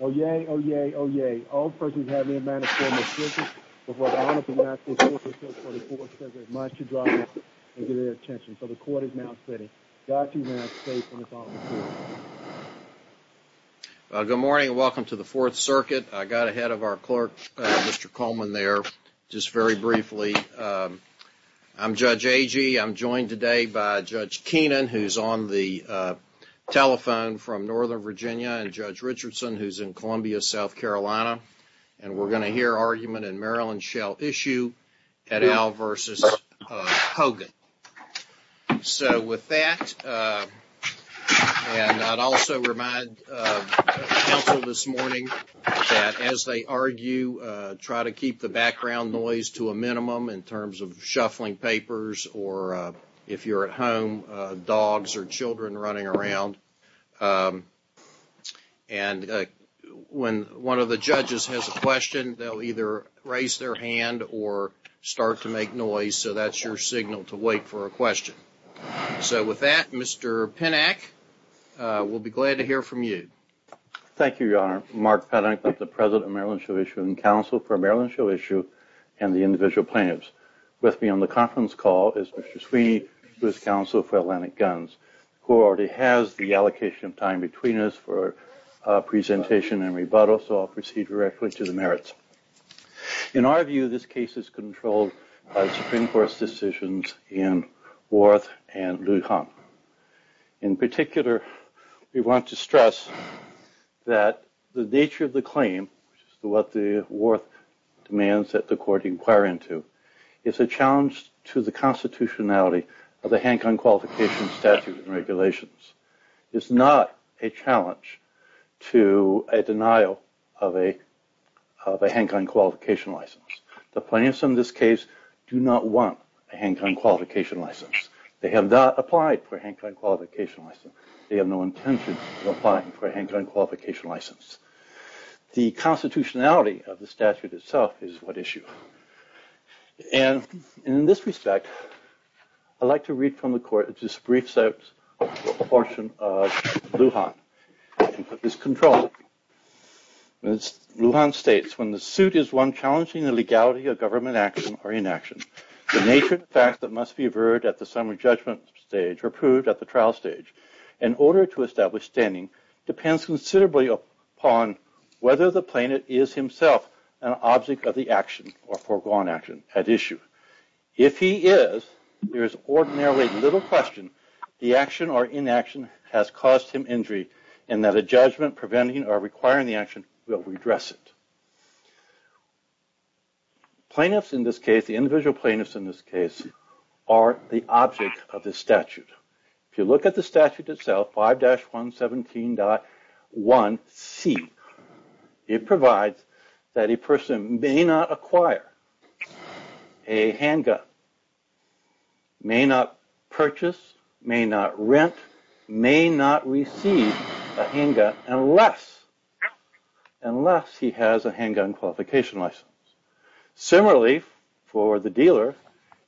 Oyez, oyez, oyez. All persons have their manifesto in the Circuit before the Honorable Massachusetts Court of Appeals for the Fourth Circuit must drop it and give it their attention. So the Court is now sitting. Godspeed and may I have faith in this Honorable Court. Good morning and welcome to the Fourth Circuit. I got ahead of our clerk, Mr. Coleman, there, just very briefly. I'm Judge Agee. I'm joined today by Judge Keenan, who's on the telephone from Northern Virginia, and Judge Richardson, who's in Columbia, South Carolina. And we're going to hear argument in Maryland Shall Issue at Al v. Hogan. So with that, and I'd also remind counsel this morning that as they argue, try to keep the background noise to a minimum in terms of shuffling papers or if you're at home, dogs or children running around. And when one of the judges has a question, they'll either raise their hand or start to make noise, so that's your signal to wait for a question. So with that, Mr. Pennack, we'll be glad to hear from you. Thank you, Your Honor. Mark Pennack, the president of Maryland Shall Issue and counsel for Maryland Shall Issue and the individual plaintiffs. With me on the conference call is Mr. Sweeney, who is counsel for Atlantic Guns, who already has the allocation of time between us for presentation and rebuttal, so I'll proceed directly to the merits. In our view, this case is controlled by the Supreme Court's decisions in Warth and Lujan. In particular, we want to stress that the nature of the claim, what the Warth demands that the court inquire into, is a challenge to the constitutionality of the handgun qualification statute and regulations. It's not a challenge to a denial of a handgun qualification license. The plaintiffs in this case do not want a handgun qualification license. They have not applied for a handgun qualification license. They have no intention of applying for a handgun qualification license. The constitutionality of the statute itself is what issues. In this respect, I'd like to read from the court a brief portion of Lujan and put this in control. Lujan states, when the suit is one challenging the legality of government action or inaction, the nature of the facts that must be averred at the summary judgment stage or proved at the trial stage, in order to establish standing, depends considerably upon whether the plaintiff is himself an object of the action or foregone action at issue. If he is, there is ordinarily little question the action or inaction has caused him injury and that a judgment preventing or requiring the action will redress it. Plaintiffs in this case, the individual plaintiffs in this case, are the object of the statute. If you look at the statute itself, 5-117.1c, it provides that a person may not acquire a handgun, may not purchase, may not rent, may not receive a handgun unless he has a handgun qualification license. Similarly, for the dealer,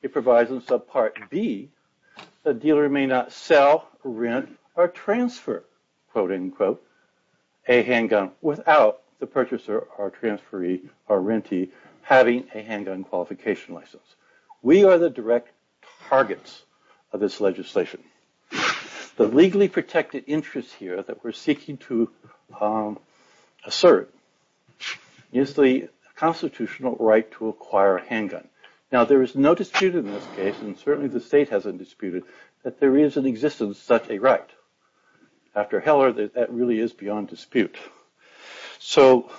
it provides in subpart B, the dealer may not sell, rent, or transfer, quote-unquote, a handgun without the purchaser or transferee or rentee having a handgun qualification license. We are the direct targets of this legislation. The legally protected interest here that we're seeking to assert is the constitutional right to acquire a handgun. Now, there is no dispute in this case, and certainly the state hasn't disputed, that there is in existence such a right. After Heller, that really is beyond dispute. So,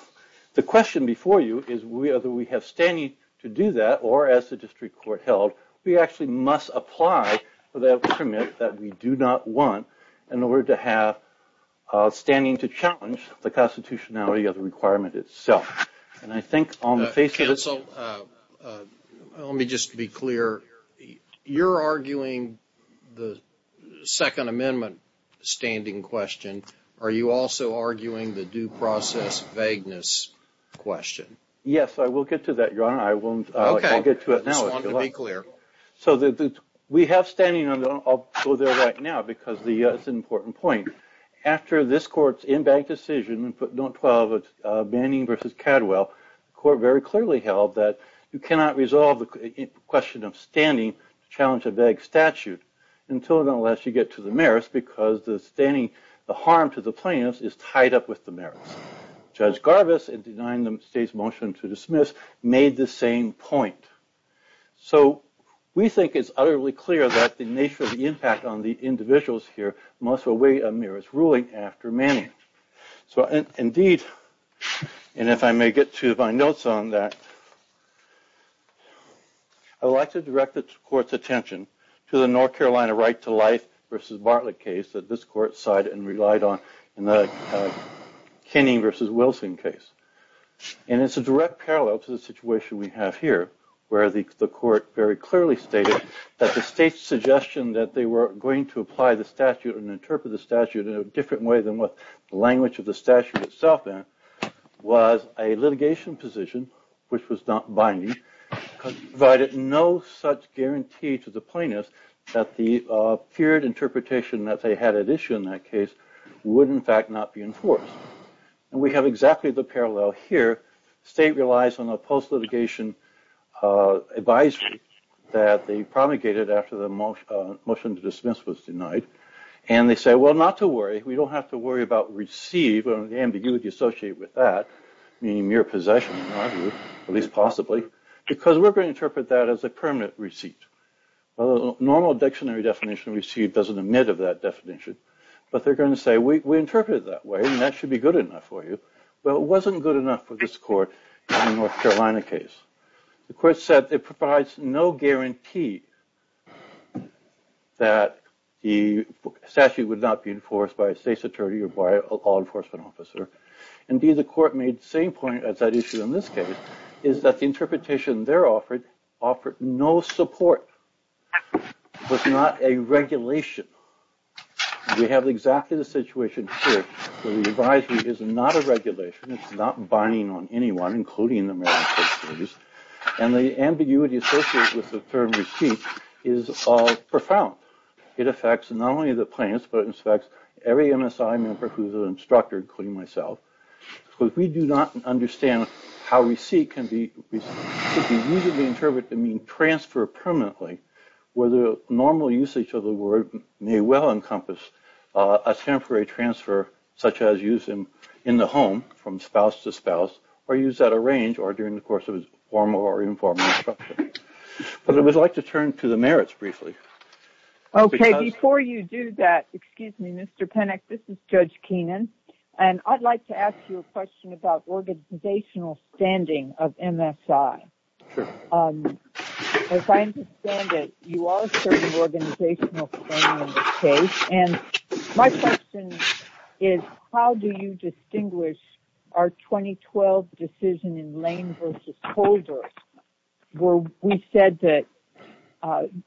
the question before you is whether we have standing to do that or, as the district court held, we actually must apply for that permit that we do not want in order to have standing to challenge the constitutionality of the requirement itself. Counsel, let me just be clear. You're arguing the Second Amendment standing question. Are you also arguing the due process vagueness question? Yes, I will get to that, Your Honor. I will get to it now. Just wanted to be clear. So, we have standing. I'll go there right now because it's an important point. After this court's in-bank decision, Note 12 of Manning v. Cadwell, the court very clearly held that you cannot resolve the question of standing to challenge a vague statute until and unless you get to the merits because the harm to the plaintiffs is tied up with the merits. Judge Garbus, in denying the state's motion to dismiss, made the same point. So, we think it's utterly clear that the nature of the impact on the individuals here must weigh a merit's ruling after Manning. So, indeed, and if I may get to my notes on that, I would like to direct the court's attention to the North Carolina right to life v. Bartlett case that this court sided and relied on in the Kenning v. Wilson case. And it's a direct parallel to the situation we have here where the court very clearly stated that the state's suggestion that they were going to apply the statute and interpret the statute in a different way than what the language of the statute itself was a litigation position, which was not binding, provided no such guarantee to the plaintiffs that the feared interpretation that they had at issue in that case would, in fact, not be enforced. And we have exactly the parallel here. The state relies on a post-litigation advisory that they promulgated after the motion to dismiss was denied. And they say, well, not to worry. We don't have to worry about receive and the ambiguity associated with that, meaning mere possession, at least possibly, because we're going to interpret that as a permanent receipt. Well, the normal dictionary definition of receipt doesn't admit of that definition. But they're going to say, we interpret it that way, and that should be good enough for you. Well, it wasn't good enough for this court in the North Carolina case. The court said it provides no guarantee that the statute would not be enforced by a state's attorney or by an law enforcement officer. Indeed, the court made the same point as that issue in this case, is that the interpretation they offered offered no support, was not a regulation. We have exactly the situation here, where the advisory is not a regulation. It's not binding on anyone, including the mere possessors. And the ambiguity associated with the term receipt is profound. It affects not only the plaintiffs, but it affects every MSI member who's an instructor, including myself. Because we do not understand how receipt can be used to interpret the mean transfer permanently, where the normal usage of the word may well encompass a temporary transfer, such as used in the home, from spouse to spouse, or used at a range, or during the course of a formal or informal instruction. But I would like to turn to the merits briefly. Okay, before you do that, excuse me, Mr. Penick, this is Judge Keenan, and I'd like to ask you a question about organizational standing of MSI. As I understand it, you are serving organizational standing in this case. And my question is, how do you distinguish our 2012 decision in Lane versus Holder, where we said that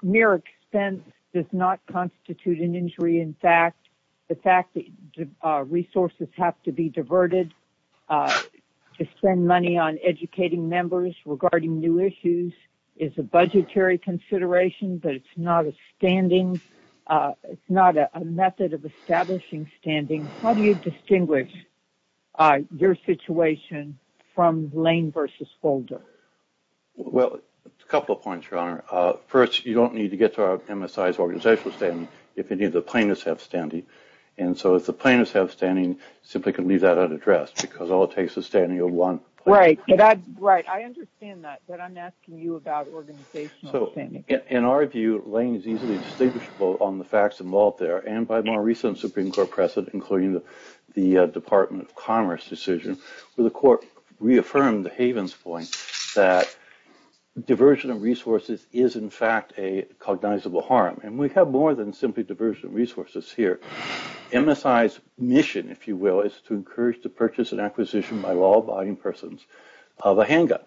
mere expense does not constitute an injury. In fact, the fact that resources have to be diverted to spend money on educating members regarding new issues is a budgetary consideration, but it's not a method of establishing standing. How do you distinguish your situation from Lane versus Holder? Well, a couple of points, Your Honor. First, you don't need to get to MSI's organizational standing if any of the plaintiffs have standing. And so if the plaintiffs have standing, you simply can leave that unaddressed, because all it takes is standing of one plaintiff. Right, I understand that, but I'm asking you about organizational standing. In our view, Lane is easily distinguishable on the facts involved there, and by more recent Supreme Court precedent, including the Department of Commerce decision, where the court reaffirmed Haven's point that diversion of resources is, in fact, a cognizable harm. And we have more than simply diversion of resources here. MSI's mission, if you will, is to encourage the purchase and acquisition by law-abiding persons of a handgun.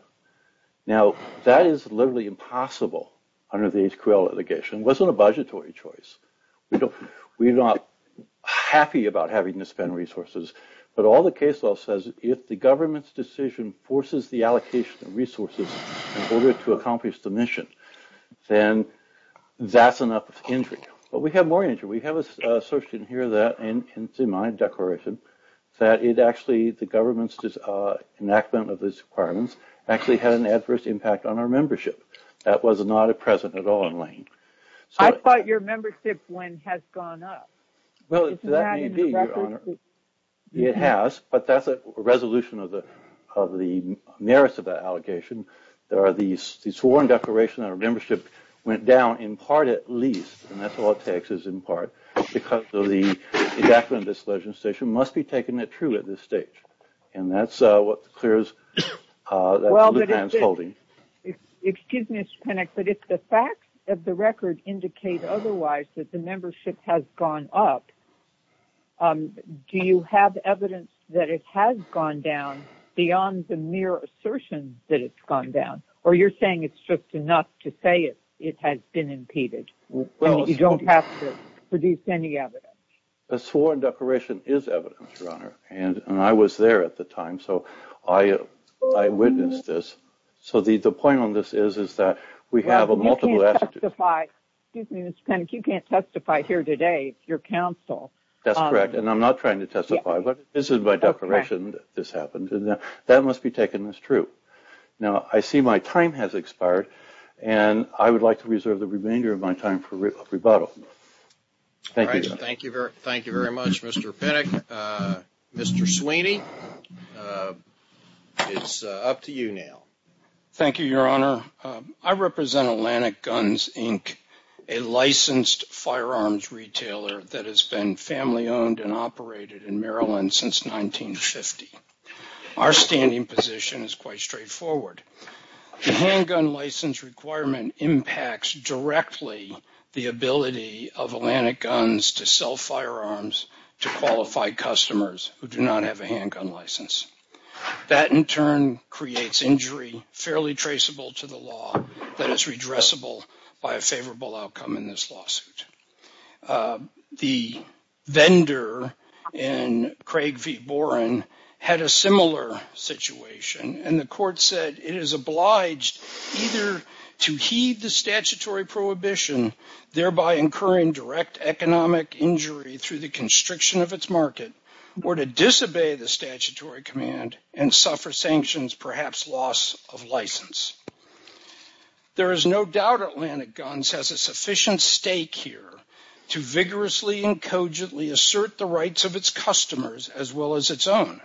Now, that is literally impossible under the HQL litigation. It wasn't a budgetary choice. We're not happy about having to spend resources, but all the case law says is if the government's decision forces the allocation of resources in order to accomplish the mission, then that's enough injury. Well, we have more injury. We have assertion here in my declaration that the government's enactment of these requirements actually had an adverse impact on our membership. That was not a precedent at all in Lane. I thought your membership win has gone up. Well, that may be, Your Honor. It has, but that's a resolution of the merits of that allegation. There are these sworn declaration that our membership went down in part at least, and that's all it takes is in part, because of the enactment of this legislation must be taken at true at this stage. And that's what the clearance that the lieutenant's holding. Excuse me, Mr. Panek, but if the facts of the record indicate otherwise that the membership has gone up, do you have evidence that it has gone down beyond the mere assertion that it's gone down? Or you're saying it's just enough to say it has been impeded, and you don't have to produce any evidence? A sworn declaration is evidence, Your Honor, and I was there at the time, so I witnessed this. So the point on this is, is that we have a multiple attitude. Well, you can't testify. Excuse me, Mr. Panek, you can't testify here today. It's your counsel. That's correct, and I'm not trying to testify, but this is my declaration that this happened, and that must be taken as true. Now, I see my time has expired, and I would like to reserve the remainder of my time for rebuttal. Thank you. Thank you very much, Mr. Panek. Mr. Sweeney, it's up to you now. Thank you, Your Honor. I represent Atlantic Guns, Inc., a licensed firearms retailer that has been family-owned and operated in Maryland since 1950. Our standing position is quite straightforward. The handgun license requirement impacts directly the ability of Atlantic Guns to sell firearms to qualified customers who do not have a handgun license. That, in turn, creates injury fairly traceable to the law that is redressable by a favorable outcome in this lawsuit. The vendor in Craig v. Boren had a similar situation, and the court said it is obliged either to heed the statutory prohibition, thereby incurring direct economic injury through the constriction of its market, or to disobey the statutory command and suffer sanctions, perhaps loss of license. There is no doubt Atlantic Guns has a sufficient stake here to vigorously and cogently assert the rights of its customers as well as its own.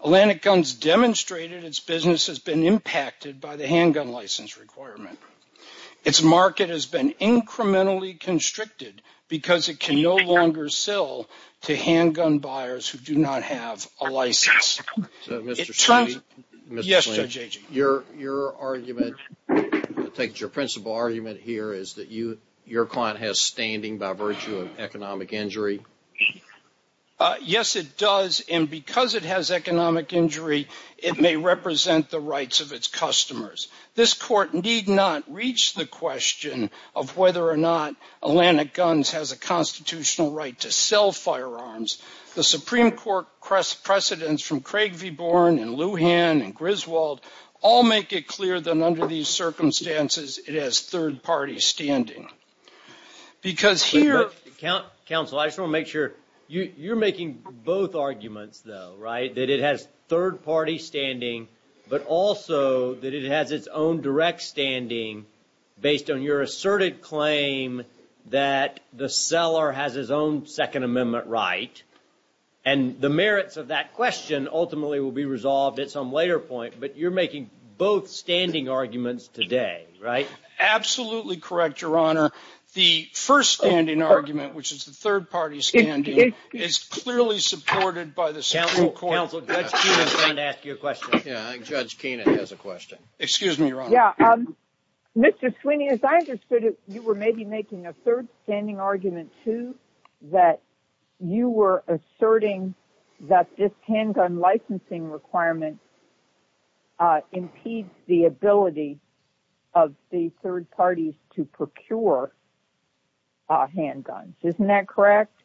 Atlantic Guns demonstrated its business has been impacted by the handgun license requirement. Its market has been incrementally constricted because it can no longer sell to handgun buyers who do not have a license. Mr. Slaney, your argument, I take it your principal argument here is that your client has standing by virtue of economic injury? Yes, it does, and because it has economic injury, it may represent the rights of its customers. This Court need not reach the question of whether or not Atlantic Guns has a constitutional right to sell firearms. The Supreme Court precedents from Craig v. Boren and Lujan and Griswold all make it clear that under these circumstances, it has third-party standing. Counsel, I just want to make sure, you're making both arguments though, right? That it has third-party standing, but also that it has its own direct standing based on your asserted claim that the seller has his own Second Amendment right, and the merits of that question ultimately will be resolved at some later point, but you're making both standing arguments today, right? Absolutely correct, Your Honor. The first-standing argument, which is the third-party standing, is clearly supported by the Supreme Court. Counsel, Judge Keenan is going to ask you a question. Excuse me, Your Honor. Mr. Sweeney, as I understood it, you were maybe making a third-standing argument, too, that you were asserting that this handgun licensing requirement impedes the ability of the third parties to procure handguns. Isn't that correct?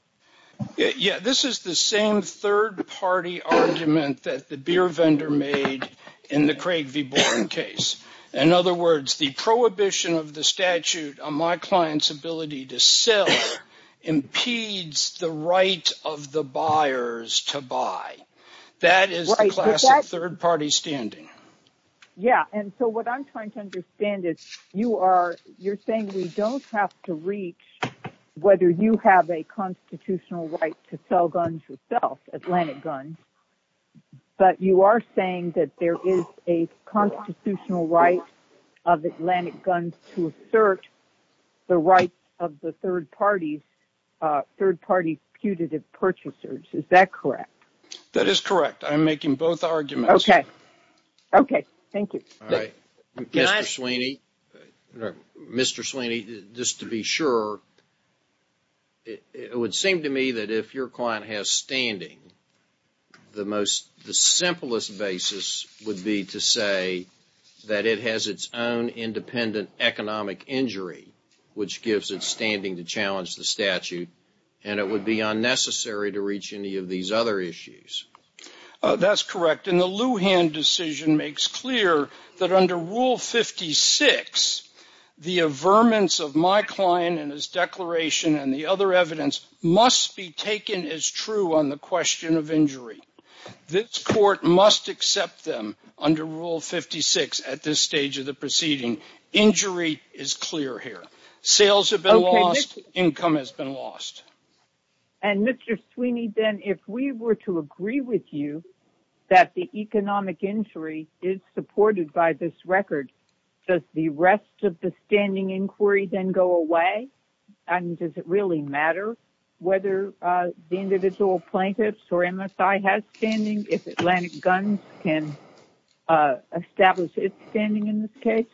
Yeah, this is the same third-party argument that the beer vendor made in the Craig v. Boren case. In other words, the prohibition of the statute on my client's ability to sell impedes the right of the buyers to buy. That is the classic third-party standing. Yeah, and so what I'm trying to understand is you're saying we don't have to reach whether you have a constitutional right to sell guns yourself, Atlantic guns, but you are saying that there is a constitutional right of Atlantic guns to assert the rights of the third parties' putative purchasers. Is that correct? That is correct. I'm making both arguments. Mr. Sweeney, just to be sure, it would seem to me that if your client has standing, the simplest basis would be to say that it has its own independent economic injury, which gives it standing to challenge the statute, and it would be unnecessary to reach any of these other issues. That's correct. And the Lujan decision makes clear that under Rule 56, the averments of my client in his declaration and the other evidence must be taken as true on the question of injury. This Court must accept them under Rule 56 at this stage of the proceeding. Injury is clear here. Sales have been lost. Income has been lost. And Mr. Sweeney, then, if we were to agree with you that the economic injury is supported by this record, does the rest of the standing inquiry then go away? And does it really matter whether the individual plaintiffs or MSI has standing if Atlantic guns can establish its standing in this case?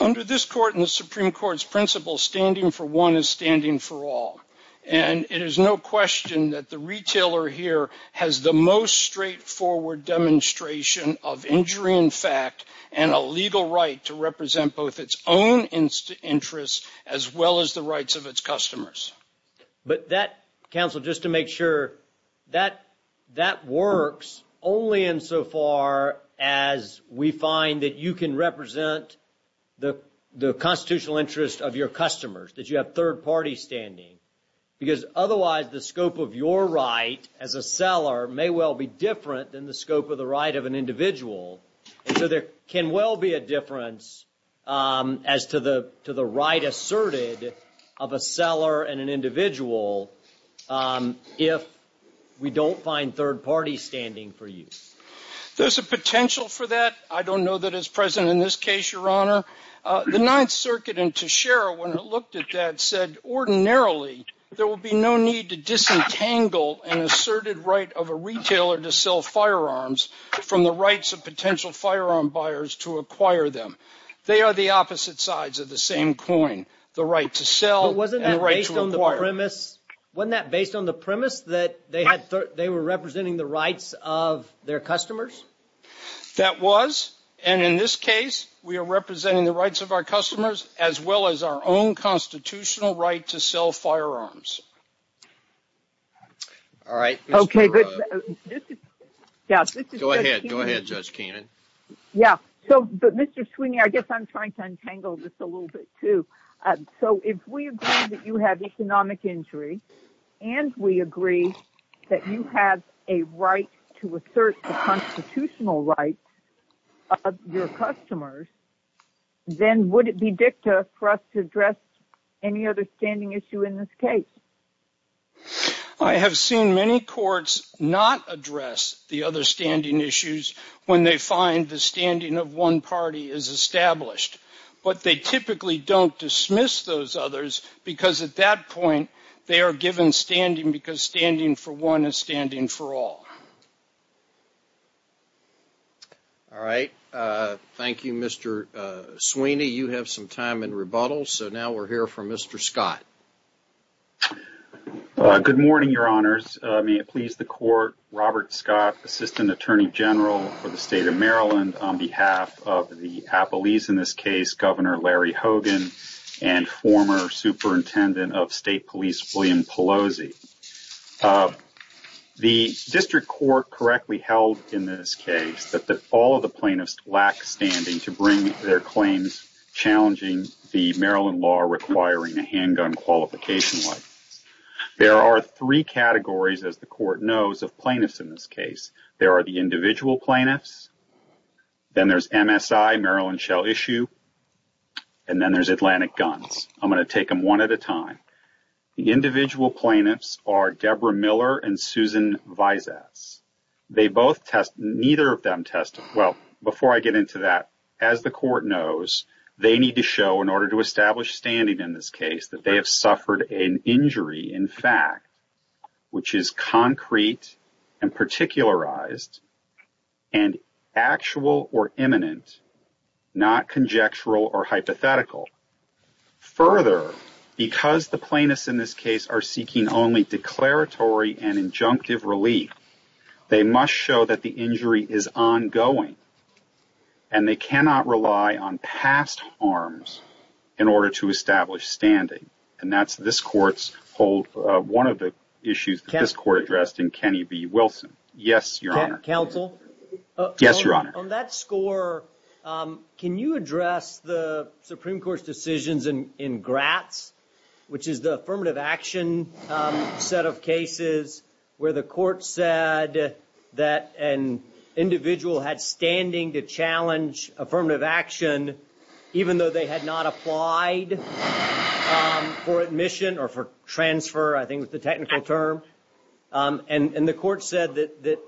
Under this Court and the Supreme Court's principle, standing for one is standing for all. And it is no question that the retailer here has the most straightforward demonstration of injury in fact, and a legal right to represent both its own interests as well as the rights of its customers. But that, counsel, just to make sure, that works only insofar as we find that you can represent your client's interests and the constitutional interest of your customers, that you have third-party standing. Because otherwise, the scope of your right as a seller may well be different than the scope of the right of an individual. And so there can well be a difference as to the right asserted of a seller and an individual if we don't find third-party standing for you. There's a potential for that. I don't know that it's present in this case, Your Honor. The Ninth Circuit in Teixeira, when it looked at that, said ordinarily there would be no need to disentangle an asserted right of a retailer to sell firearms from the rights of potential firearm buyers to acquire them. They are the opposite sides of the same coin, the right to sell and the right to acquire. Wasn't that based on the premise that they were representing the rights of their customers? That was. And in this case, we are representing the rights of our customers as well as our own constitutional right to sell firearms. All right. Go ahead, Judge Kainan. Yeah. But, Mr. Sweeney, I guess I'm trying to untangle this a little bit, too. So if we agree that you have economic injury and we agree that you have a right to assert the constitutional rights of your customers, then would it be dicta for us to address any other standing issue in this case? I have seen many courts not address the other standing issues when they find the standing of one party is established. But they typically don't dismiss those others because at that point they are given standing because standing for one is standing for all. All right. Thank you, Mr. Sweeney. You have some time in rebuttal. So now we're here for Mr. Scott. Good morning, Your Honors. May it please the Court. Robert Scott, Assistant Attorney General for the State of Maryland, on behalf of the appellees in this case, Governor Larry Hogan and former Superintendent of State Police William Pelosi. The district court correctly held in this case that all of the plaintiffs lack standing to bring their claims challenging the statute of limitations. There are three categories, as the Court knows, of plaintiffs in this case. There are the individual plaintiffs, then there's MSI, Maryland Shell Issue, and then there's Atlantic Guns. I'm going to take them one at a time. The individual plaintiffs are Deborah Miller and Susan Vizas. They both test – neither of them test – well, before I get into that, as the Court knows, they need to show in order to establish their standing in this case that they have suffered an injury, in fact, which is concrete and particularized and actual or imminent, not conjectural or hypothetical. Further, because the plaintiffs in this case are seeking only declaratory and injunctive relief, they must show that the injury is ongoing and they cannot rely on past harms in order to establish their standing. And that's – this Court's hold – one of the issues that this Court addressed in Kenny B. Wilson. Yes, Your Honor. Counsel? Yes, Your Honor. On that score, can you address the Supreme Court's decisions in Gratz, which is the affirmative action set of cases, where the Court said that an individual had standing to challenge affirmative action, even though they had not applied for admission or for transfer, I think was the technical term. And the Court said that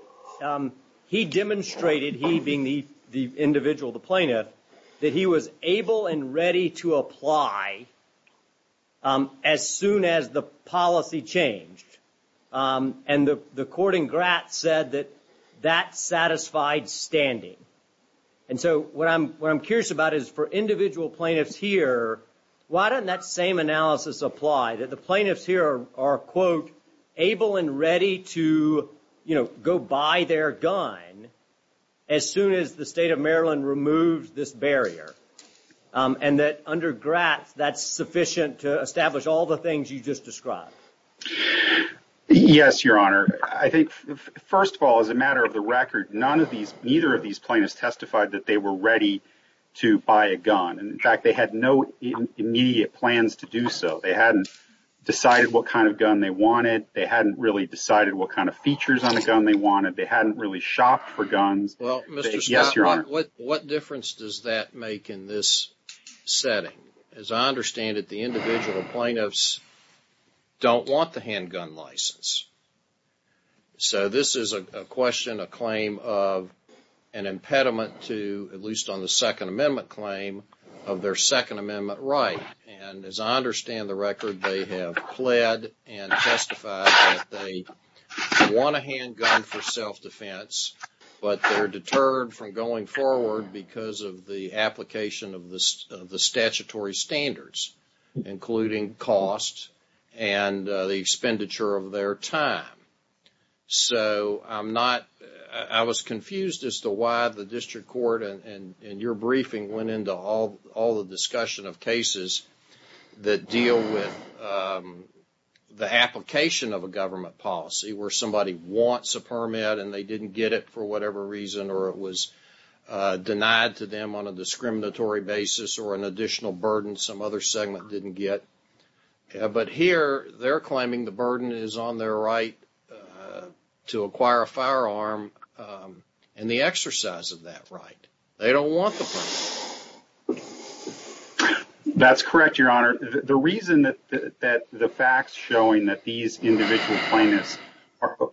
he demonstrated, he being the individual, the plaintiff, that he was able and ready to apply as soon as the policy changed. And the Court in Gratz said that that satisfied standing. And so what I'm curious about is for individual plaintiffs here, why doesn't that same analysis apply? That the plaintiffs here are, quote, able and ready to, you know, go buy their gun as soon as the State of Maryland removes this barrier. And that under Gratz, that's sufficient to establish all the things you just described. Yes, Your Honor. I think, first of all, as a matter of the record, none of these, neither of these plaintiffs testified that they were ready to buy a gun. And, in fact, they had no immediate plans to do so. They hadn't decided what kind of gun they wanted, they hadn't really decided what kind of features on the gun they wanted, they hadn't really shopped for guns. Well, Mr. Scott, what difference does that make in this setting? As I understand it, the individual plaintiffs don't want the handgun license. So this is a question, a claim of an impediment to, at least on the Second Amendment claim, of their Second Amendment right. And as I understand the record, they have pled and testified that they want a handgun for self-defense, but they're deterred from going forward because of the application of the statutory standards, including cost and the expenditure of their time. So I'm not, I was confused as to why the District Court and your briefing went into all the discussion of cases that deal with the application of a government policy where somebody wants a permit and they didn't get it for whatever reason or it was denied to them on a discriminatory basis or an additional burden some other segment didn't get. But here, they're claiming the burden is on their right to acquire a firearm and the exercise of that right. They don't want the permit. That's correct, Your Honor. The reason that the facts showing that these individual plaintiffs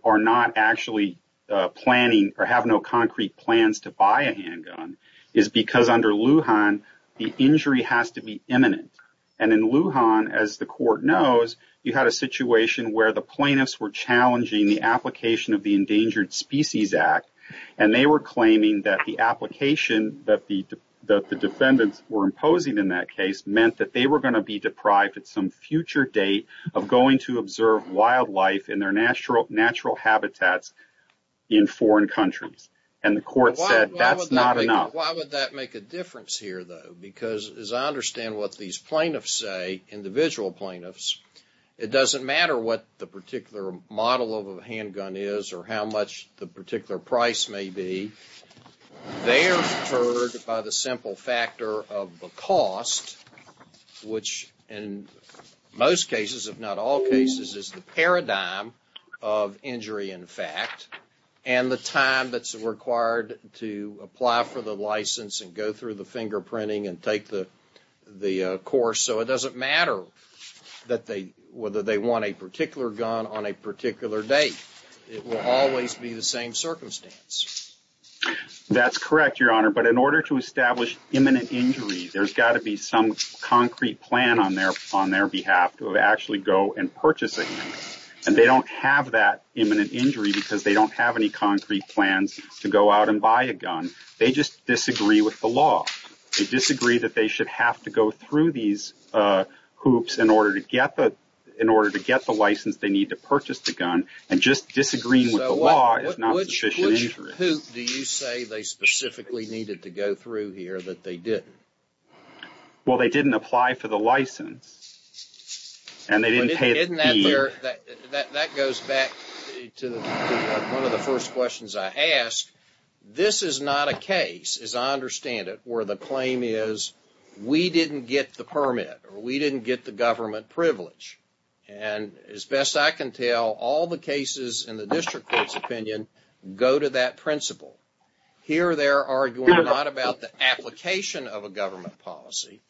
are not actually planning or have no concrete plans to buy a handgun is because under Lujan, the injury has to be imminent. And in Lujan, as the court knows, you had a situation where the plaintiffs were challenging the application of the Endangered Species Act and they were claiming that the application that the defendants were imposing in that case meant that they were going to be deprived at some future date of going to observe wildlife in their natural habitats in foreign countries. And the court said that's not enough. Now, why would that make a difference here, though? Because as I understand what these plaintiffs say, individual plaintiffs, it doesn't matter what the particular model of a handgun is or how much the particular price may be. They are deterred by the simple factor of the cost, which in most cases, if not all cases, is the paradigm of injury in fact and the time that's required to apply for the license and go through the fingerprinting and take the course. So it doesn't matter whether they want a particular gun on a particular date. It will always be the same circumstance. That's correct, Your Honor. But in order to establish imminent injury, there's got to be some concrete plan on their behalf to actually go and purchase a gun. And they don't have that imminent injury because they don't have any concrete plans to go out and buy a gun. They just disagree with the law. They disagree that they should have to go through these hoops in order to get the license they need to purchase the gun and just disagreeing with the law is not sufficient injury. Well, they didn't apply for the license and they didn't pay a fee. That goes back to one of the first questions I asked. This is not a case, as I understand it, where the claim is, we didn't get the permit or we didn't get the government privilege. And as best I can tell, all the cases in the district court's opinion go to that principle. Here they're arguing not about the application of a government policy,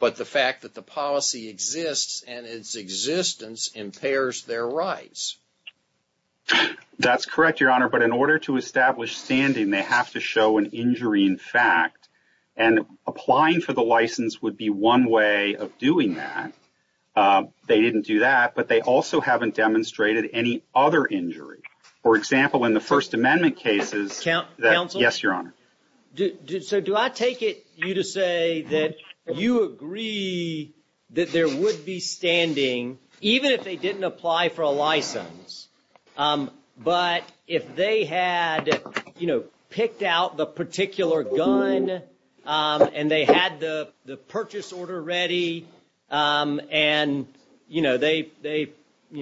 but the fact that the policy exists and its existence impairs their rights. That's correct, Your Honor. But in order to establish standing, they have to show an injury in fact. And applying for the license would be one way of doing that. They didn't do that, but they also haven't demonstrated any other injury. For example, in the First Amendment cases, yes, Your Honor. So do I take it you to say that you agree that there would be standing even if they didn't apply for a license, but if they had picked out the particular gun and they had the purchase order ready and they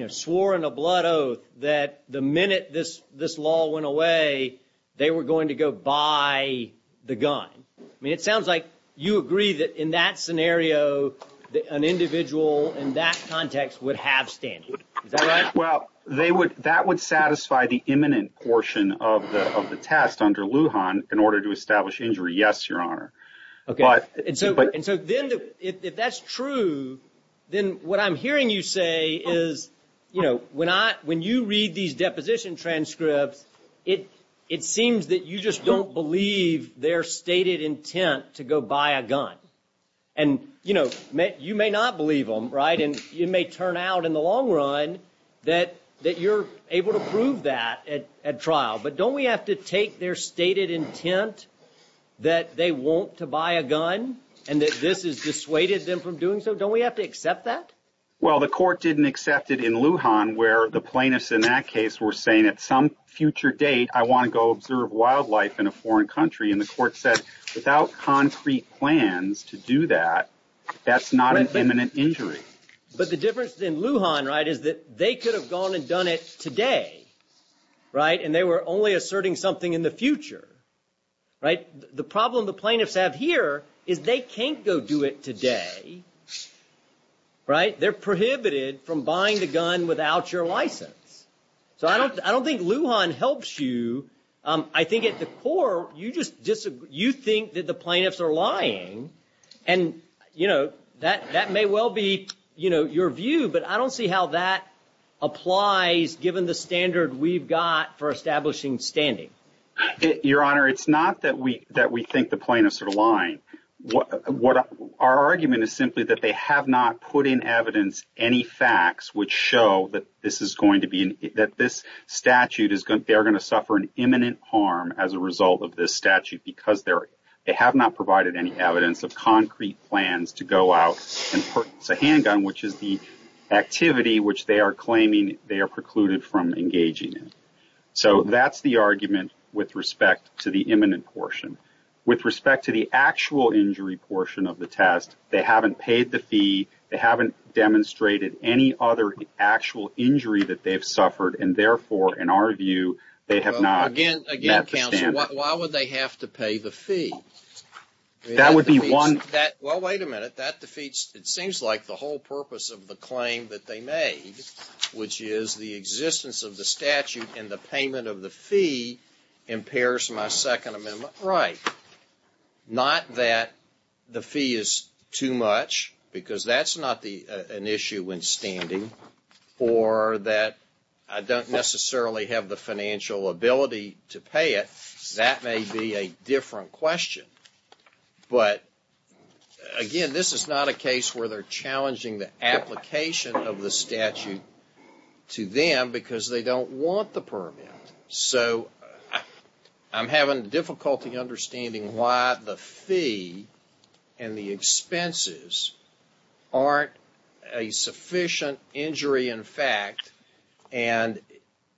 swore in a blood oath that the minute this law went away, they were going to go buy the gun? I mean, it sounds like you agree that in that scenario, an individual in that context would have standing. Well, that would satisfy the imminent portion of the test under Lujan in order to establish injury. Yes, Your Honor. If that's true, then what I'm hearing you say is when you read these deposition transcripts, it seems that you just don't believe their stated intent to go buy a gun. And, you know, you may not believe them, right, and it may turn out in the long run that you're able to prove that at trial. But don't we have to take their stated intent that they want to buy a gun and that this has dissuaded them from doing so? Don't we have to accept that? Well, the court didn't accept it in Lujan, where the plaintiffs in that case were saying at some future date, I want to go observe wildlife in a foreign country. And the court said without concrete plans to do that, that's not an imminent injury. But the difference in Lujan, right, is that they could have gone and done it today, right, and they were only asserting something in the future. The problem the plaintiffs have here is they can't go do it today, right? They're prohibited from buying the gun without your license. So I don't think Lujan helps you. I think at the court, you think that the plaintiffs are lying. And, you know, that may well be your view, but I don't see how that applies given the standard we've got for establishing standing. Your Honor, it's not that we that we think the plaintiffs are lying. Our argument is simply that they have not put in evidence any facts which show that this is going to be that this statute is good. They're going to suffer an imminent harm as a result of this statute because they're they have not provided any evidence of concrete plans to go out. It's a handgun, which is the activity which they are claiming they are precluded from engaging in. So that's the argument with respect to the imminent portion. With respect to the actual injury portion of the test, they haven't paid the fee. They haven't demonstrated any other actual injury that they've suffered. And therefore, in our view, they have not met the standard. Why would they have to pay the fee? That would be one that. Well, wait a minute. That defeats. It seems like the whole purpose of the claim that they made, which is the existence of the statute and the payment of the fee impairs my Second Amendment right. Not that the fee is too much, because that's not the an issue when standing or that I don't necessarily have the financial ability to pay it. That may be a different question. But again, this is not a case where they're challenging the application of the statute to them because they don't want the permit. So I'm having difficulty understanding why the fee and the expenses aren't a sufficient injury. In fact, and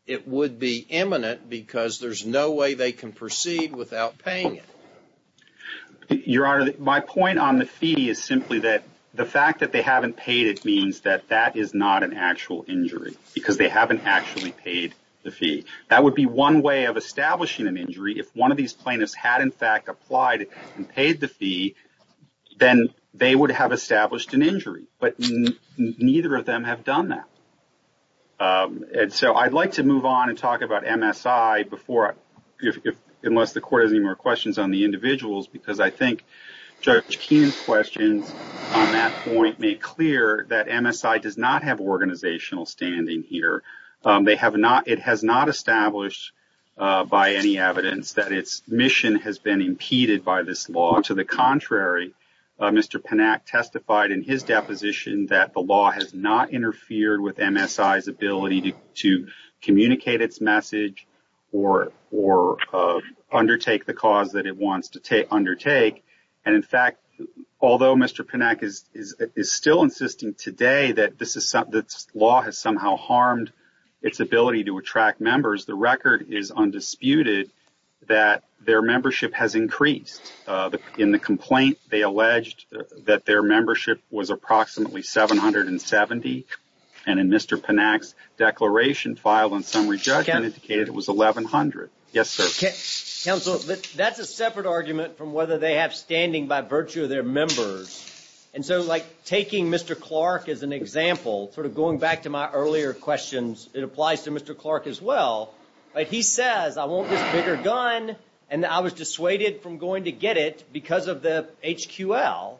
it would be imminent because there's no way they can proceed without paying it. Your Honor, my point on the fee is simply that the fact that they haven't paid it means that that is not an actual injury because they haven't actually paid the fee. That would be one way of establishing an injury. If one of these plaintiffs had, in fact, applied and paid the fee, then they would have established an injury. But neither of them have done that. And so I'd like to move on and talk about MSI before, unless the court has any more questions on the individuals, because I think Judge Keenan's questions on that point make clear that MSI does not have organizational standing here. It has not established by any evidence that its mission has been impeded by this law. To the contrary, Mr. Panak testified in his deposition that the law has not interfered with MSI's ability to communicate its message or undertake the cause that it wants to undertake. And in fact, although Mr. Panak is still insisting today that this law has somehow harmed MSI, its ability to attract members, the record is undisputed that their membership has increased. In the complaint, they alleged that their membership was approximately 770. And in Mr. Panak's declaration filed on summary judgment indicated it was 1,100. Yes, sir. Counsel, that's a separate argument from whether they have standing by virtue of their members. And so, like, taking Mr. Clark as an example, sort of going back to my earlier questions, it applies to Mr. Clark as well. He says, I want this bigger gun, and I was dissuaded from going to get it because of the HQL.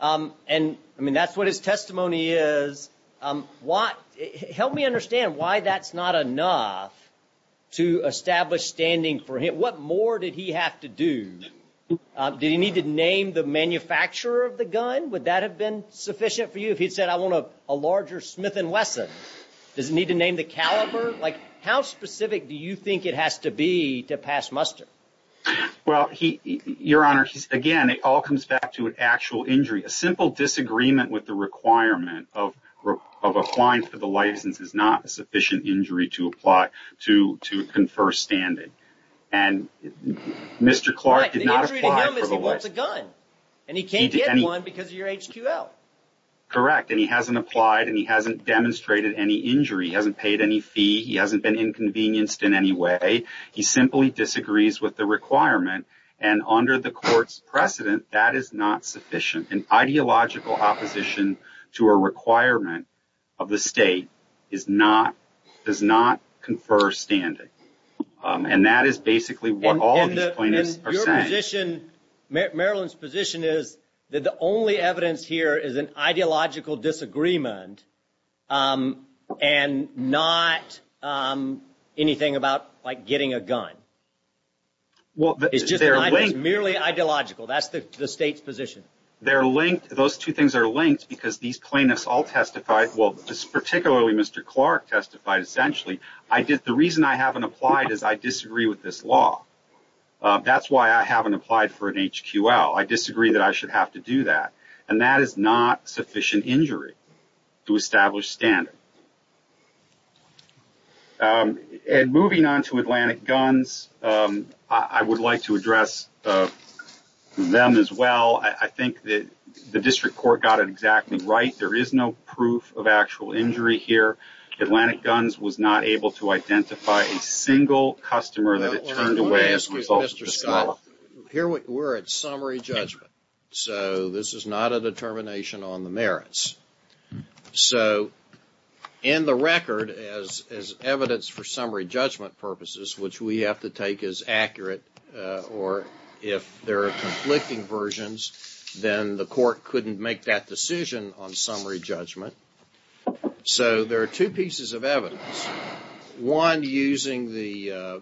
And I mean, that's what his testimony is. Help me understand why that's not enough to establish standing for him. What more did he have to do? Did he need to name the manufacturer of the gun? Would that have been sufficient for you if he'd said, I want a larger Smith & Wesson? Does he need to name the caliber? Like, how specific do you think it has to be to pass muster? Well, Your Honor, again, it all comes back to an actual injury. A simple disagreement with the requirement of applying for the license is not a sufficient injury to apply to confer standing. And Mr. Clark did not apply for the license. Right, the injury to him is he wants a gun, and he can't get one because of your HQL. Correct, and he hasn't applied, and he hasn't demonstrated any injury. He hasn't paid any fee. He hasn't been inconvenienced in any way. He simply disagrees with the requirement, and under the court's precedent, that is not sufficient. An ideological opposition to a requirement of the state is not, does not confer standing. And that is basically what all these plaintiffs are saying. And your position, Maryland's position is that the only evidence here is an ideological disagreement, and not anything about, like, getting a gun. It's merely ideological. That's the state's position. They're linked. Those two things are linked because these plaintiffs all testified, well, particularly Mr. Clark testified, essentially. The reason I haven't applied is I disagree with this law. That's why I haven't applied for an HQL. I disagree that I should have to do that. And that is not sufficient injury to establish standard. And moving on to Atlantic Guns, I would like to address them as well. I think that the district court got it exactly right. There is no proof of actual injury here. Atlantic Guns was not able to identify a single customer that it turned away as a result of this law. Here we're at summary judgment, so this is not a determination on the merits. So in the record, as evidence for summary judgment purposes, which we have to take as accurate, or if there are conflicting versions, then the court couldn't make that decision on summary judgment. So there are two pieces of evidence. One, using the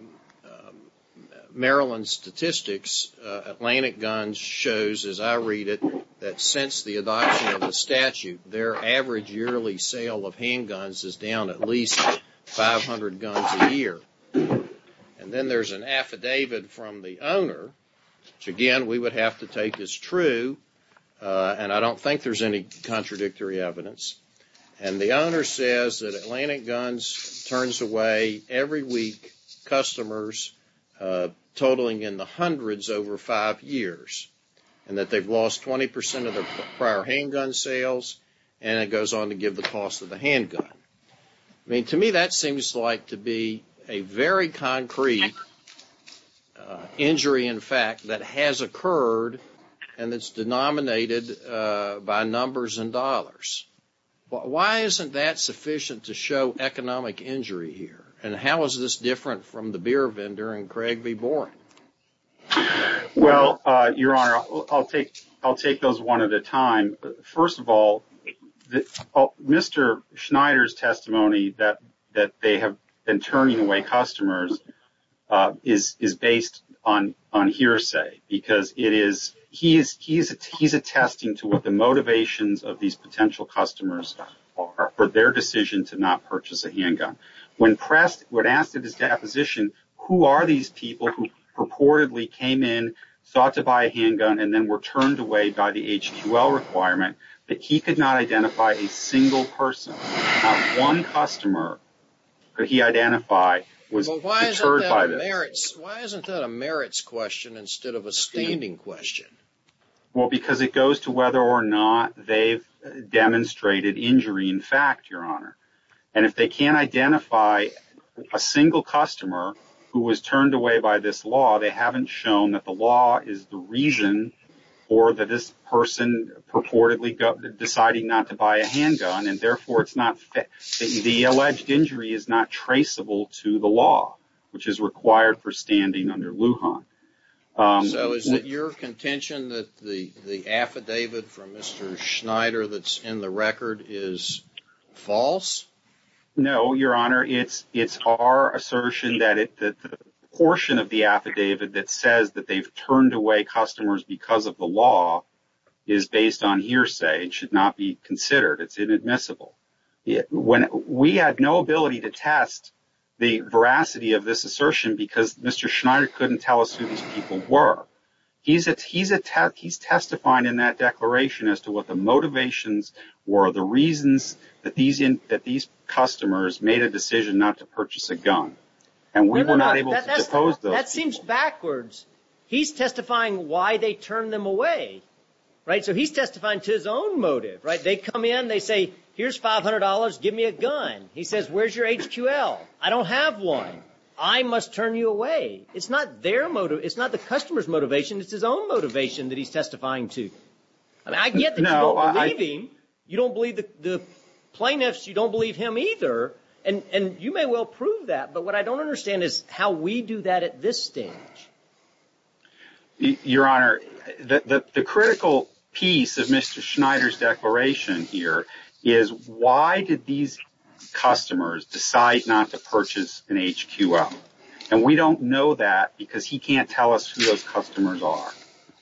Maryland statistics, Atlantic Guns shows, as I read it, that since the adoption of the statute, their average yearly sale of handguns is down at least 500 guns a year. And then there's an affidavit from the owner, which again we would have to take as true, and I don't think there's any contradictory evidence. And the owner says that Atlantic Guns turns away, every week, customers totaling in the hundreds over five years, and that they've lost 20 percent of their prior handgun sales, and it goes on to give the cost of the handgun. I mean, to me that seems like to be a very concrete injury, in fact, that has occurred and that's denominated by numbers and dollars. Why isn't that sufficient to show economic injury here? And how is this different from the beer vendor in Craig v. Boren? Well, Your Honor, I'll take those one at a time. First of all, Mr. Schneider's testimony that they have been turning away customers is based on hearsay, because he's attesting to what the motivations of these potential customers are for their decision to not purchase a handgun. When asked at his deposition, who are these people who purportedly came in, sought to buy a handgun, and then were turned away by the HQL requirement, that he could not identify a single person. Not one customer could he identify was deterred by this. Why isn't that a merits question instead of a standing question? Well, because it goes to whether or not they've demonstrated injury in fact, Your Honor. And if they can't identify a single customer who was turned away by this law, they haven't shown that the law is the reason for this person purportedly deciding not to buy a handgun, and therefore the alleged injury is not traceable to the law, which is required for standing under Lujan. So is it your contention that the affidavit from Mr. Schneider that's in the record is false? No, Your Honor. It's our assertion that the portion of the affidavit that says that they've turned away customers because of the law is based on hearsay and should not be considered. It's inadmissible. We had no ability to test the veracity of this assertion because Mr. Schneider couldn't tell us who these people were. He's testifying in that declaration as to what the motivations were, the reasons that these customers made a decision not to purchase a gun, and we were not able to depose those people. That seems backwards. He's testifying why they turned them away, right? So he's testifying to his own motive, right? Customers come in. They say, here's $500. Give me a gun. He says, where's your HQL? I don't have one. I must turn you away. It's not their motive. It's not the customer's motivation. It's his own motivation that he's testifying to. I get that you don't believe him. You don't believe the plaintiffs. You don't believe him either, and you may well prove that, but what I don't understand is how we do that at this stage. Your Honor, the critical piece of Mr. Schneider's declaration here is, why did these customers decide not to purchase an HQL? And we don't know that because he can't tell us who those customers are.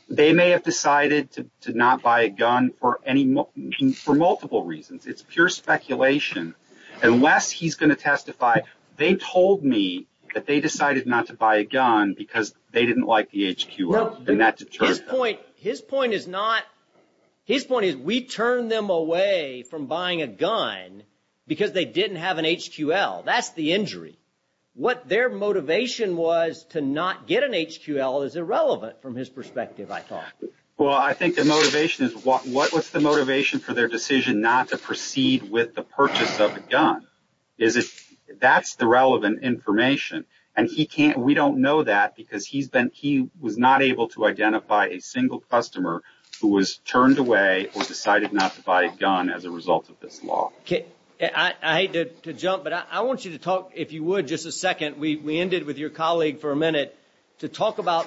They may have decided to not buy a gun for multiple reasons. It's pure speculation. Unless he's going to testify, they told me that they decided not to buy a gun because they didn't like the HQL, and that deterred them. His point is we turned them away from buying a gun because they didn't have an HQL. That's the injury. What their motivation was to not get an HQL is irrelevant from his perspective, I thought. Well, I think the motivation is, what was the motivation for their decision not to proceed with the purchase of a gun? That's the relevant information, and we don't know that because he was not able to identify a single customer who was turned away or decided not to buy a gun as a result of this law. I hate to jump, but I want you to talk, if you would, just a second. We ended with your colleague for a minute, to talk about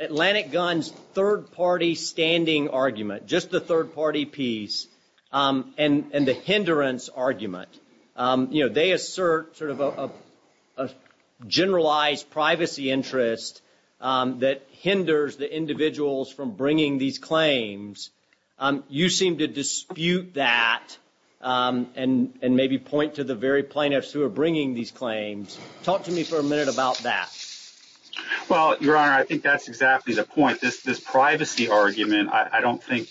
Atlantic Guns' third-party standing argument, just the third-party piece, and the hindrance argument. They assert sort of a generalized privacy interest that hinders the individuals from bringing these claims. You seem to dispute that and maybe point to the very plaintiffs who are bringing these claims. Talk to me for a minute about that. Well, Your Honor, I think that's exactly the point. This privacy argument, I don't think,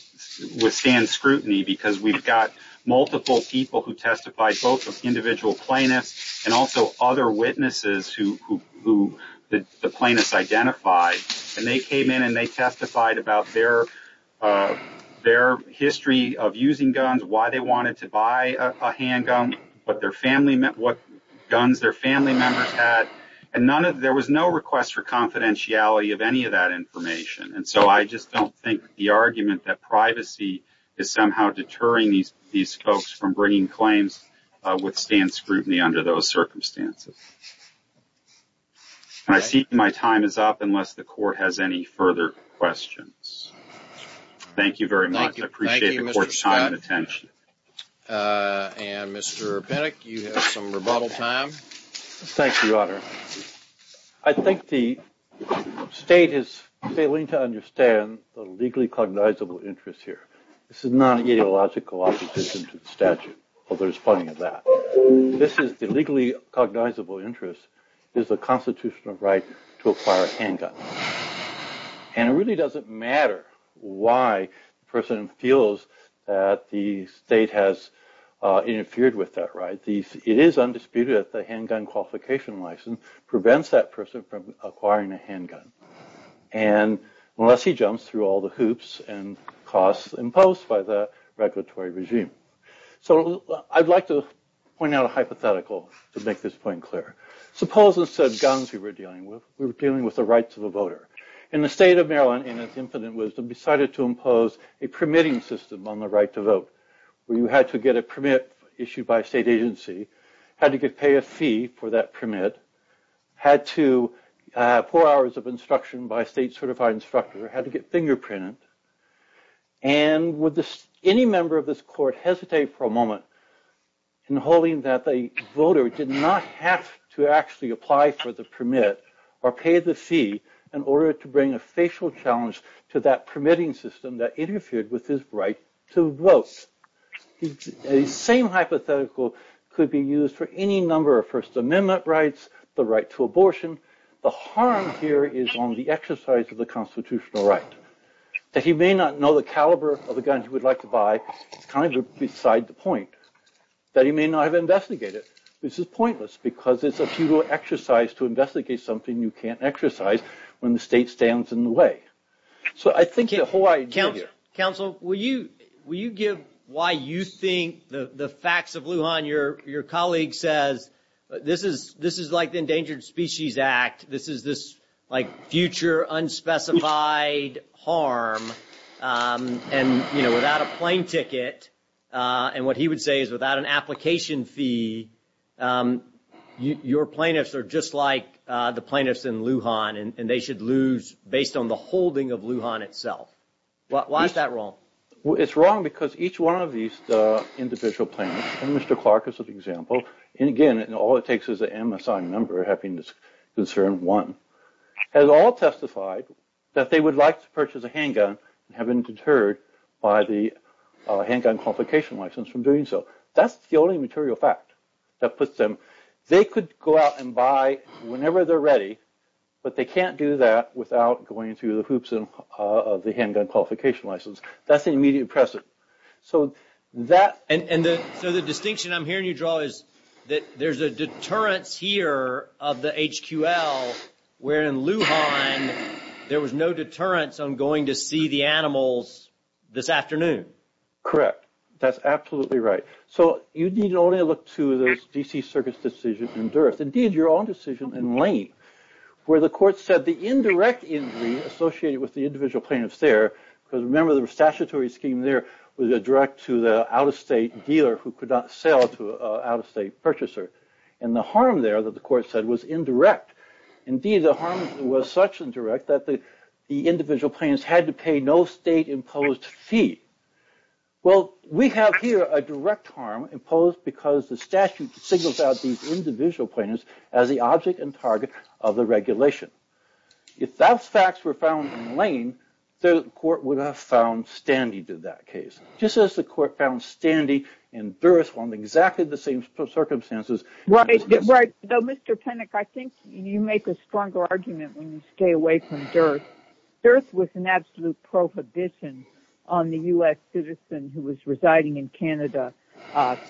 withstands scrutiny because we've got multiple people who testified, both individual plaintiffs and also other witnesses who the plaintiffs identified. They came in and they testified about their history of using guns, why they wanted to buy a handgun, what guns their family members had. There was no request for confidentiality of any of that information, and so I just don't think the argument that privacy is somehow deterring these folks from bringing claims withstands scrutiny under those circumstances. I see my time is up unless the Court has any further questions. Thank you very much. I appreciate the Court's time and attention. And, Mr. Pinnock, you have some rebuttal time. Thank you, Your Honor. I think the state is failing to understand the legally cognizable interest here. This is not an ideological opposition to the statute, although there's plenty of that. This is the legally cognizable interest is the constitutional right to acquire a handgun. And it really doesn't matter why the person feels that the state has interfered with that right. It is undisputed that the handgun qualification license prevents that person from acquiring a handgun, unless he jumps through all the hoops and costs imposed by the regulatory regime. So I'd like to point out a hypothetical to make this point clear. Suppose instead of guns we were dealing with, we were dealing with the rights of a voter. And the state of Maryland, in its infinite wisdom, decided to impose a permitting system on the right to vote where you had to get a permit issued by a state agency, had to pay a fee for that permit, had to have four hours of instruction by a state-certified instructor, had to get fingerprinted. And would any member of this Court hesitate for a moment in holding that the voter did not have to actually apply for the permit or pay the fee in order to bring a facial challenge to that permitting system that interfered with his right to vote. The same hypothetical could be used for any number of First Amendment rights, the right to abortion. The harm here is on the exercise of the constitutional right. That he may not know the caliber of the gun he would like to buy is kind of beside the point. That he may not have investigated it. This is pointless because it's a futile exercise to investigate something you can't exercise when the state stands in the way. So I think the whole idea here... Counsel, will you give why you think the facts of Lujan, your colleague says, this is like the Endangered Species Act, this is like future unspecified harm, and without a plane ticket, and what he would say is without an application fee, your plaintiffs are just like the plaintiffs in Lujan, and they should lose based on the holding of Lujan itself. Why is that wrong? It's wrong because each one of these individual plaintiffs, and Mr. Clark is an example, and again, all it takes is an MSI number, Happiness Concern 1, has all testified that they would like to purchase a handgun, and have been deterred by the handgun qualification license from doing so. That's the only material fact that puts them... They could go out and buy whenever they're ready, but they can't do that without going through the hoops of the handgun qualification license. That's an immediate precedent. And so the distinction I'm hearing you draw is that there's a deterrence here of the HQL, where in Lujan, there was no deterrence on going to see the animals this afternoon. Correct. That's absolutely right. So you need only look to the D.C. Circuit's decision in Durres, indeed your own decision in Lane, where the court said the indirect injury associated with the individual plaintiffs there, because remember the statutory scheme there was a direct to the out-of-state dealer who could not sell to an out-of-state purchaser, and the harm there that the court said was indirect. Indeed, the harm was such indirect that the individual plaintiffs had to pay no state-imposed fee. Well, we have here a direct harm imposed because the statute signals out these individual plaintiffs as the object and target of the regulation. If those facts were found in Lane, the court would have found standee to that case, just as the court found standee in Durres under exactly the same circumstances. Right. Right. Now, Mr. Penick, I think you make a stronger argument when you stay away from Durres. Durres was an absolute prohibition on the U.S. citizen who was residing in Canada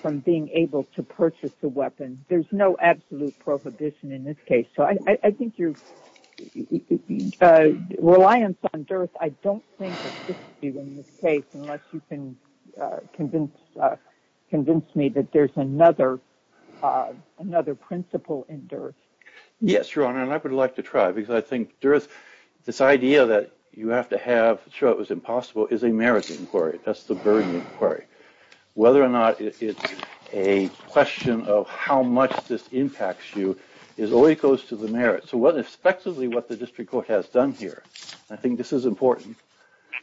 from being able to purchase a weapon. There's no absolute prohibition in this case. So I think your reliance on Durres, I don't think exists in this case unless you can convince me that there's another principle in Durres. Yes, Your Honor, and I would like to try, because I think Durres, this idea that you have to have to show it was impossible is a merit inquiry. That's the burden inquiry. Whether or not it's a question of how much this impacts you always goes to the merit. So what the district court has done here, I think this is important,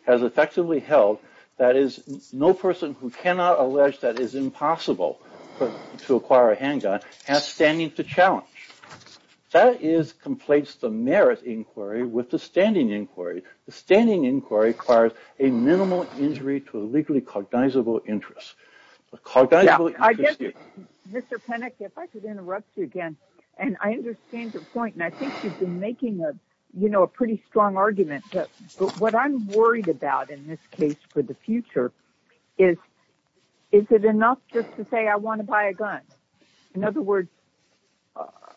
has effectively held that no person who cannot allege that it is impossible to acquire a handgun has standing to challenge. That conflates the merit inquiry with the standing inquiry. The standing inquiry requires a minimal injury to a legally cognizable interest. Mr. Penick, if I could interrupt you again, and I understand your point, and I think you've been making a pretty strong argument, but what I'm worried about in this case for the future is, is it enough just to say I want to buy a gun? In other words,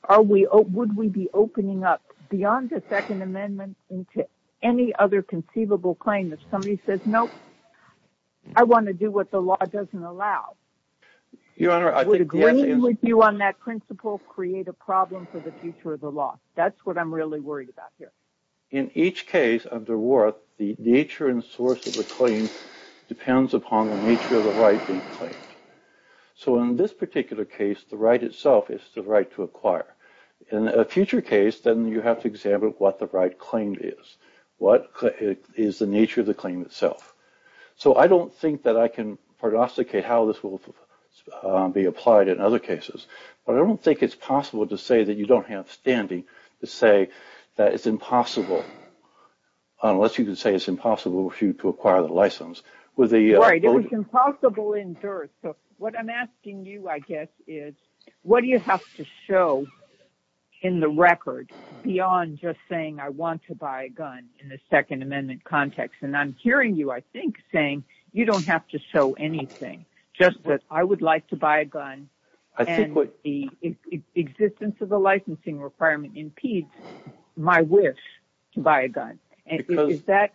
would we be opening up beyond the Second Amendment into any other conceivable claim? If somebody says, nope, I want to do what the law doesn't allow, would agreeing with you on that principle create a problem for the future of the law? That's what I'm really worried about here. In each case under Worth, the nature and source of the claim depends upon the nature of the right being claimed. So in this particular case, the right itself is the right to acquire. In a future case, then you have to examine what the right claim is. What is the nature of the claim itself? So I don't think that I can prognosticate how this will be applied in other cases, but I don't think it's possible to say that you don't have standing to say that it's impossible, unless you can say it's impossible for you to acquire the license. Right, it was impossible in Durst. So what I'm asking you, I guess, is what do you have to show in the record beyond just saying I want to buy a gun in the Second Amendment context? And I'm hearing you, I think, saying you don't have to show anything, just that I would like to buy a gun and the existence of a licensing requirement impedes my wish to buy a gun. Is that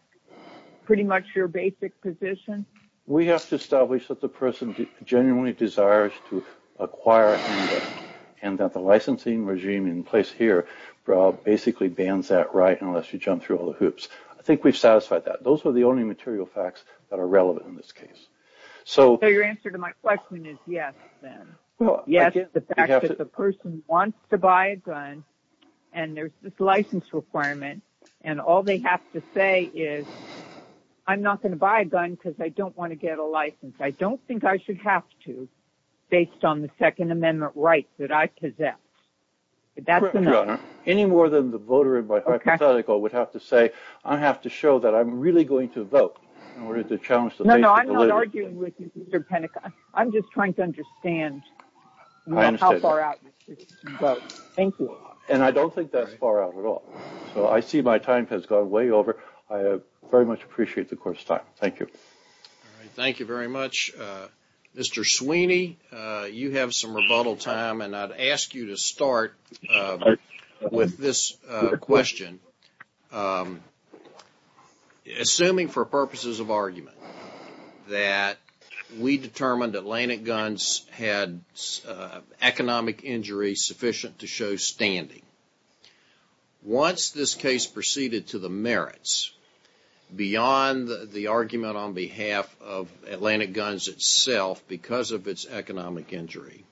pretty much your basic position? We have to establish that the person genuinely desires to acquire a gun, and that the licensing regime in place here basically bans that right unless you jump through all the hoops. I think we've satisfied that. Those are the only material facts that are relevant in this case. So your answer to my question is yes, then. Yes, the fact that the person wants to buy a gun and there's this license requirement and all they have to say is I'm not going to buy a gun because I don't want to get a license. I don't think I should have to based on the Second Amendment rights that I possess. But that's enough. Any more than the voter in my hypothetical would have to say I have to show that I'm really going to vote in order to challenge the basic validity. No, no, I'm not arguing with you, Mr. Penica. I'm just trying to understand how far out you can go. I understand. Thank you. And I don't think that's far out at all. So I see my time has gone way over. I very much appreciate the course of time. Thank you. Thank you very much. Mr. Sweeney, you have some rebuttal time, and I'd ask you to start with this question. Assuming for purposes of argument that we determined Atlantic Guns had economic injury sufficient to show standing, once this case proceeded to the merits beyond the argument on behalf of Atlantic Guns itself because of its economic injury,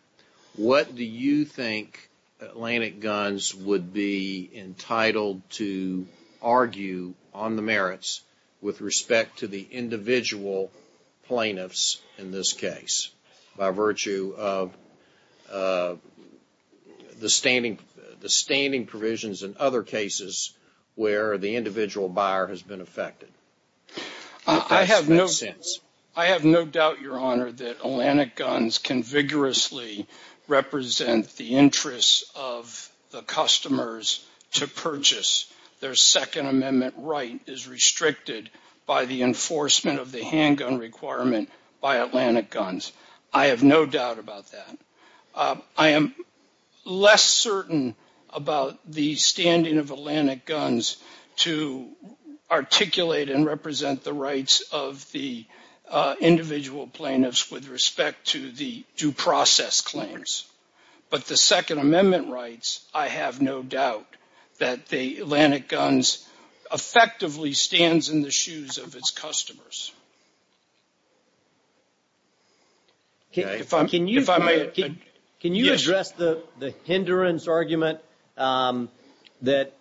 what do you think Atlantic Guns would be entitled to argue on the merits with respect to the individual plaintiffs in this case by virtue of the standing provisions in other cases where the individual buyer has been affected? I have no doubt, Your Honor, that Atlantic Guns can vigorously represent the interests of the customers to purchase. Their Second Amendment right is restricted by the enforcement of the handgun requirement by Atlantic Guns. I have no doubt about that. I am less certain about the standing of Atlantic Guns to articulate and represent the rights of the individual plaintiffs with respect to the due process claims. But the Second Amendment rights, I have no doubt that the Atlantic Guns effectively stands in the shoes of its customers. Can you address the hindrance argument that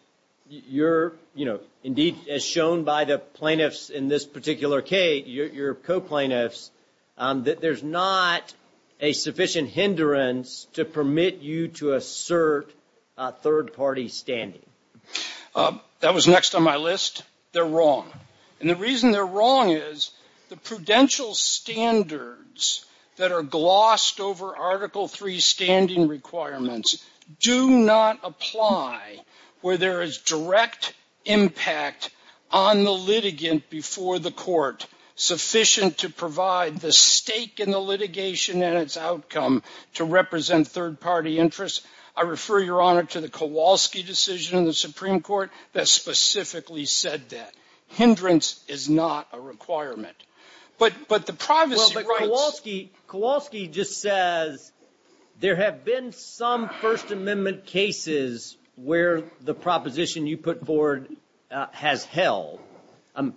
you're, you know, indeed as shown by the plaintiffs in this particular case, your co-plaintiffs, that there's not a sufficient hindrance to permit you to assert third-party standing? That was next on my list. They're wrong. And the reason they're wrong is the prudential standards that are glossed over Article III standing requirements do not apply where there is direct impact on the litigant before the court sufficient to provide the stake in the litigation and its outcome to represent third-party interests. I refer, Your Honor, to the Kowalski decision in the Supreme Court that specifically said that. Hindrance is not a requirement. But the privacy rights- Well, but Kowalski just says there have been some First Amendment cases where the proposition you put forward has held.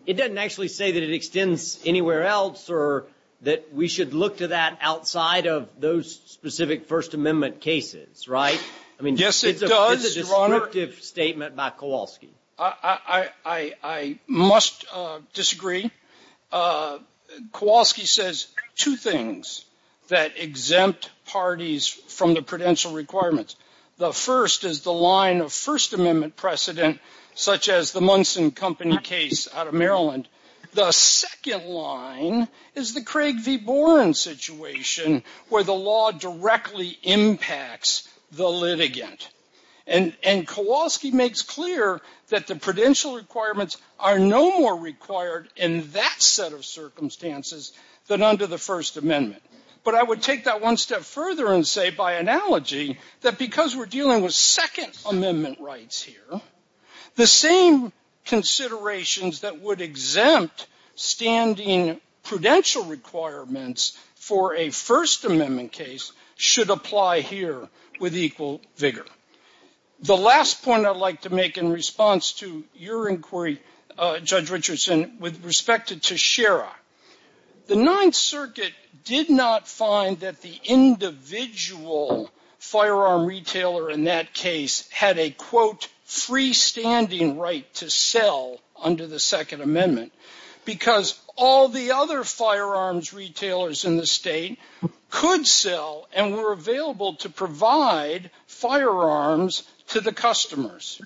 It doesn't actually say that it extends anywhere else or that we should look to that outside of those specific First Amendment cases, right? I mean- Yes, it does, Your Honor. It's a descriptive statement by Kowalski. I must disagree. Kowalski says two things that exempt parties from the prudential requirements. The first is the line of First Amendment precedent, such as the Munson Company case out of Maryland. The second line is the Craig v. Boren situation where the law directly impacts the litigant. And Kowalski makes clear that the prudential requirements are no more required in that set of circumstances than under the First Amendment. But I would take that one step further and say, by analogy, that because we're dealing with Second Amendment rights here, the same considerations that would exempt standing prudential requirements for a First Amendment case should apply here with equal vigor. The last point I'd like to make in response to your inquiry, Judge Richardson, with respect to Shira, the Ninth Circuit did not find that the individual firearm retailer in that case had a, quote, freestanding right to sell under the Second Amendment because all the other firearms retailers in the state could sell and were available to provide firearms to the customers.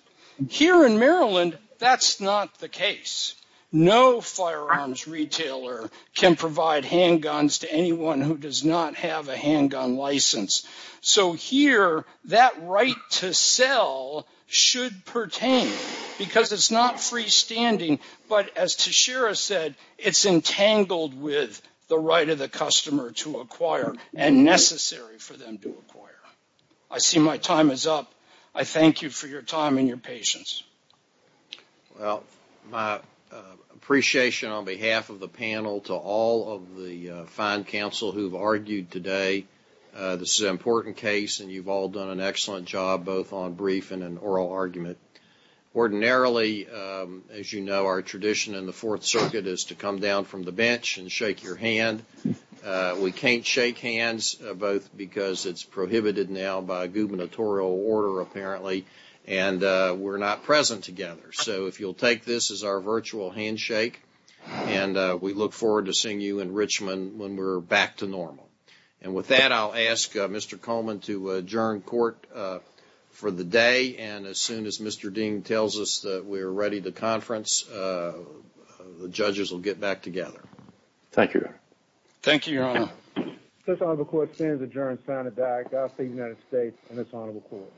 Here in Maryland, that's not the case. No firearms retailer can provide handguns to anyone who does not have a handgun license. So here, that right to sell should pertain because it's not freestanding, but as to Shira said, it's entangled with the right of the customer to acquire and necessary for them to acquire. I see my time is up. I thank you for your time and your patience. Well, my appreciation on behalf of the panel to all of the fine counsel who've argued today. This is an important case, and you've all done an excellent job both on briefing and oral argument. Ordinarily, as you know, our tradition in the Fourth Circuit is to come down from the bench and shake your hand. We can't shake hands, both because it's prohibited now by gubernatorial order, apparently, and we're not present together. So if you'll take this as our virtual handshake, and we look forward to seeing you in Richmond when we're back to normal. And with that, I'll ask Mr. Coleman to adjourn court for the day, and as soon as Mr. Dean tells us that we're ready to conference, the judges will get back together. Thank you, Your Honor. Thank you, Your Honor. This honorable court stands adjourned, signed, and died. Godspeed, United States and this honorable court.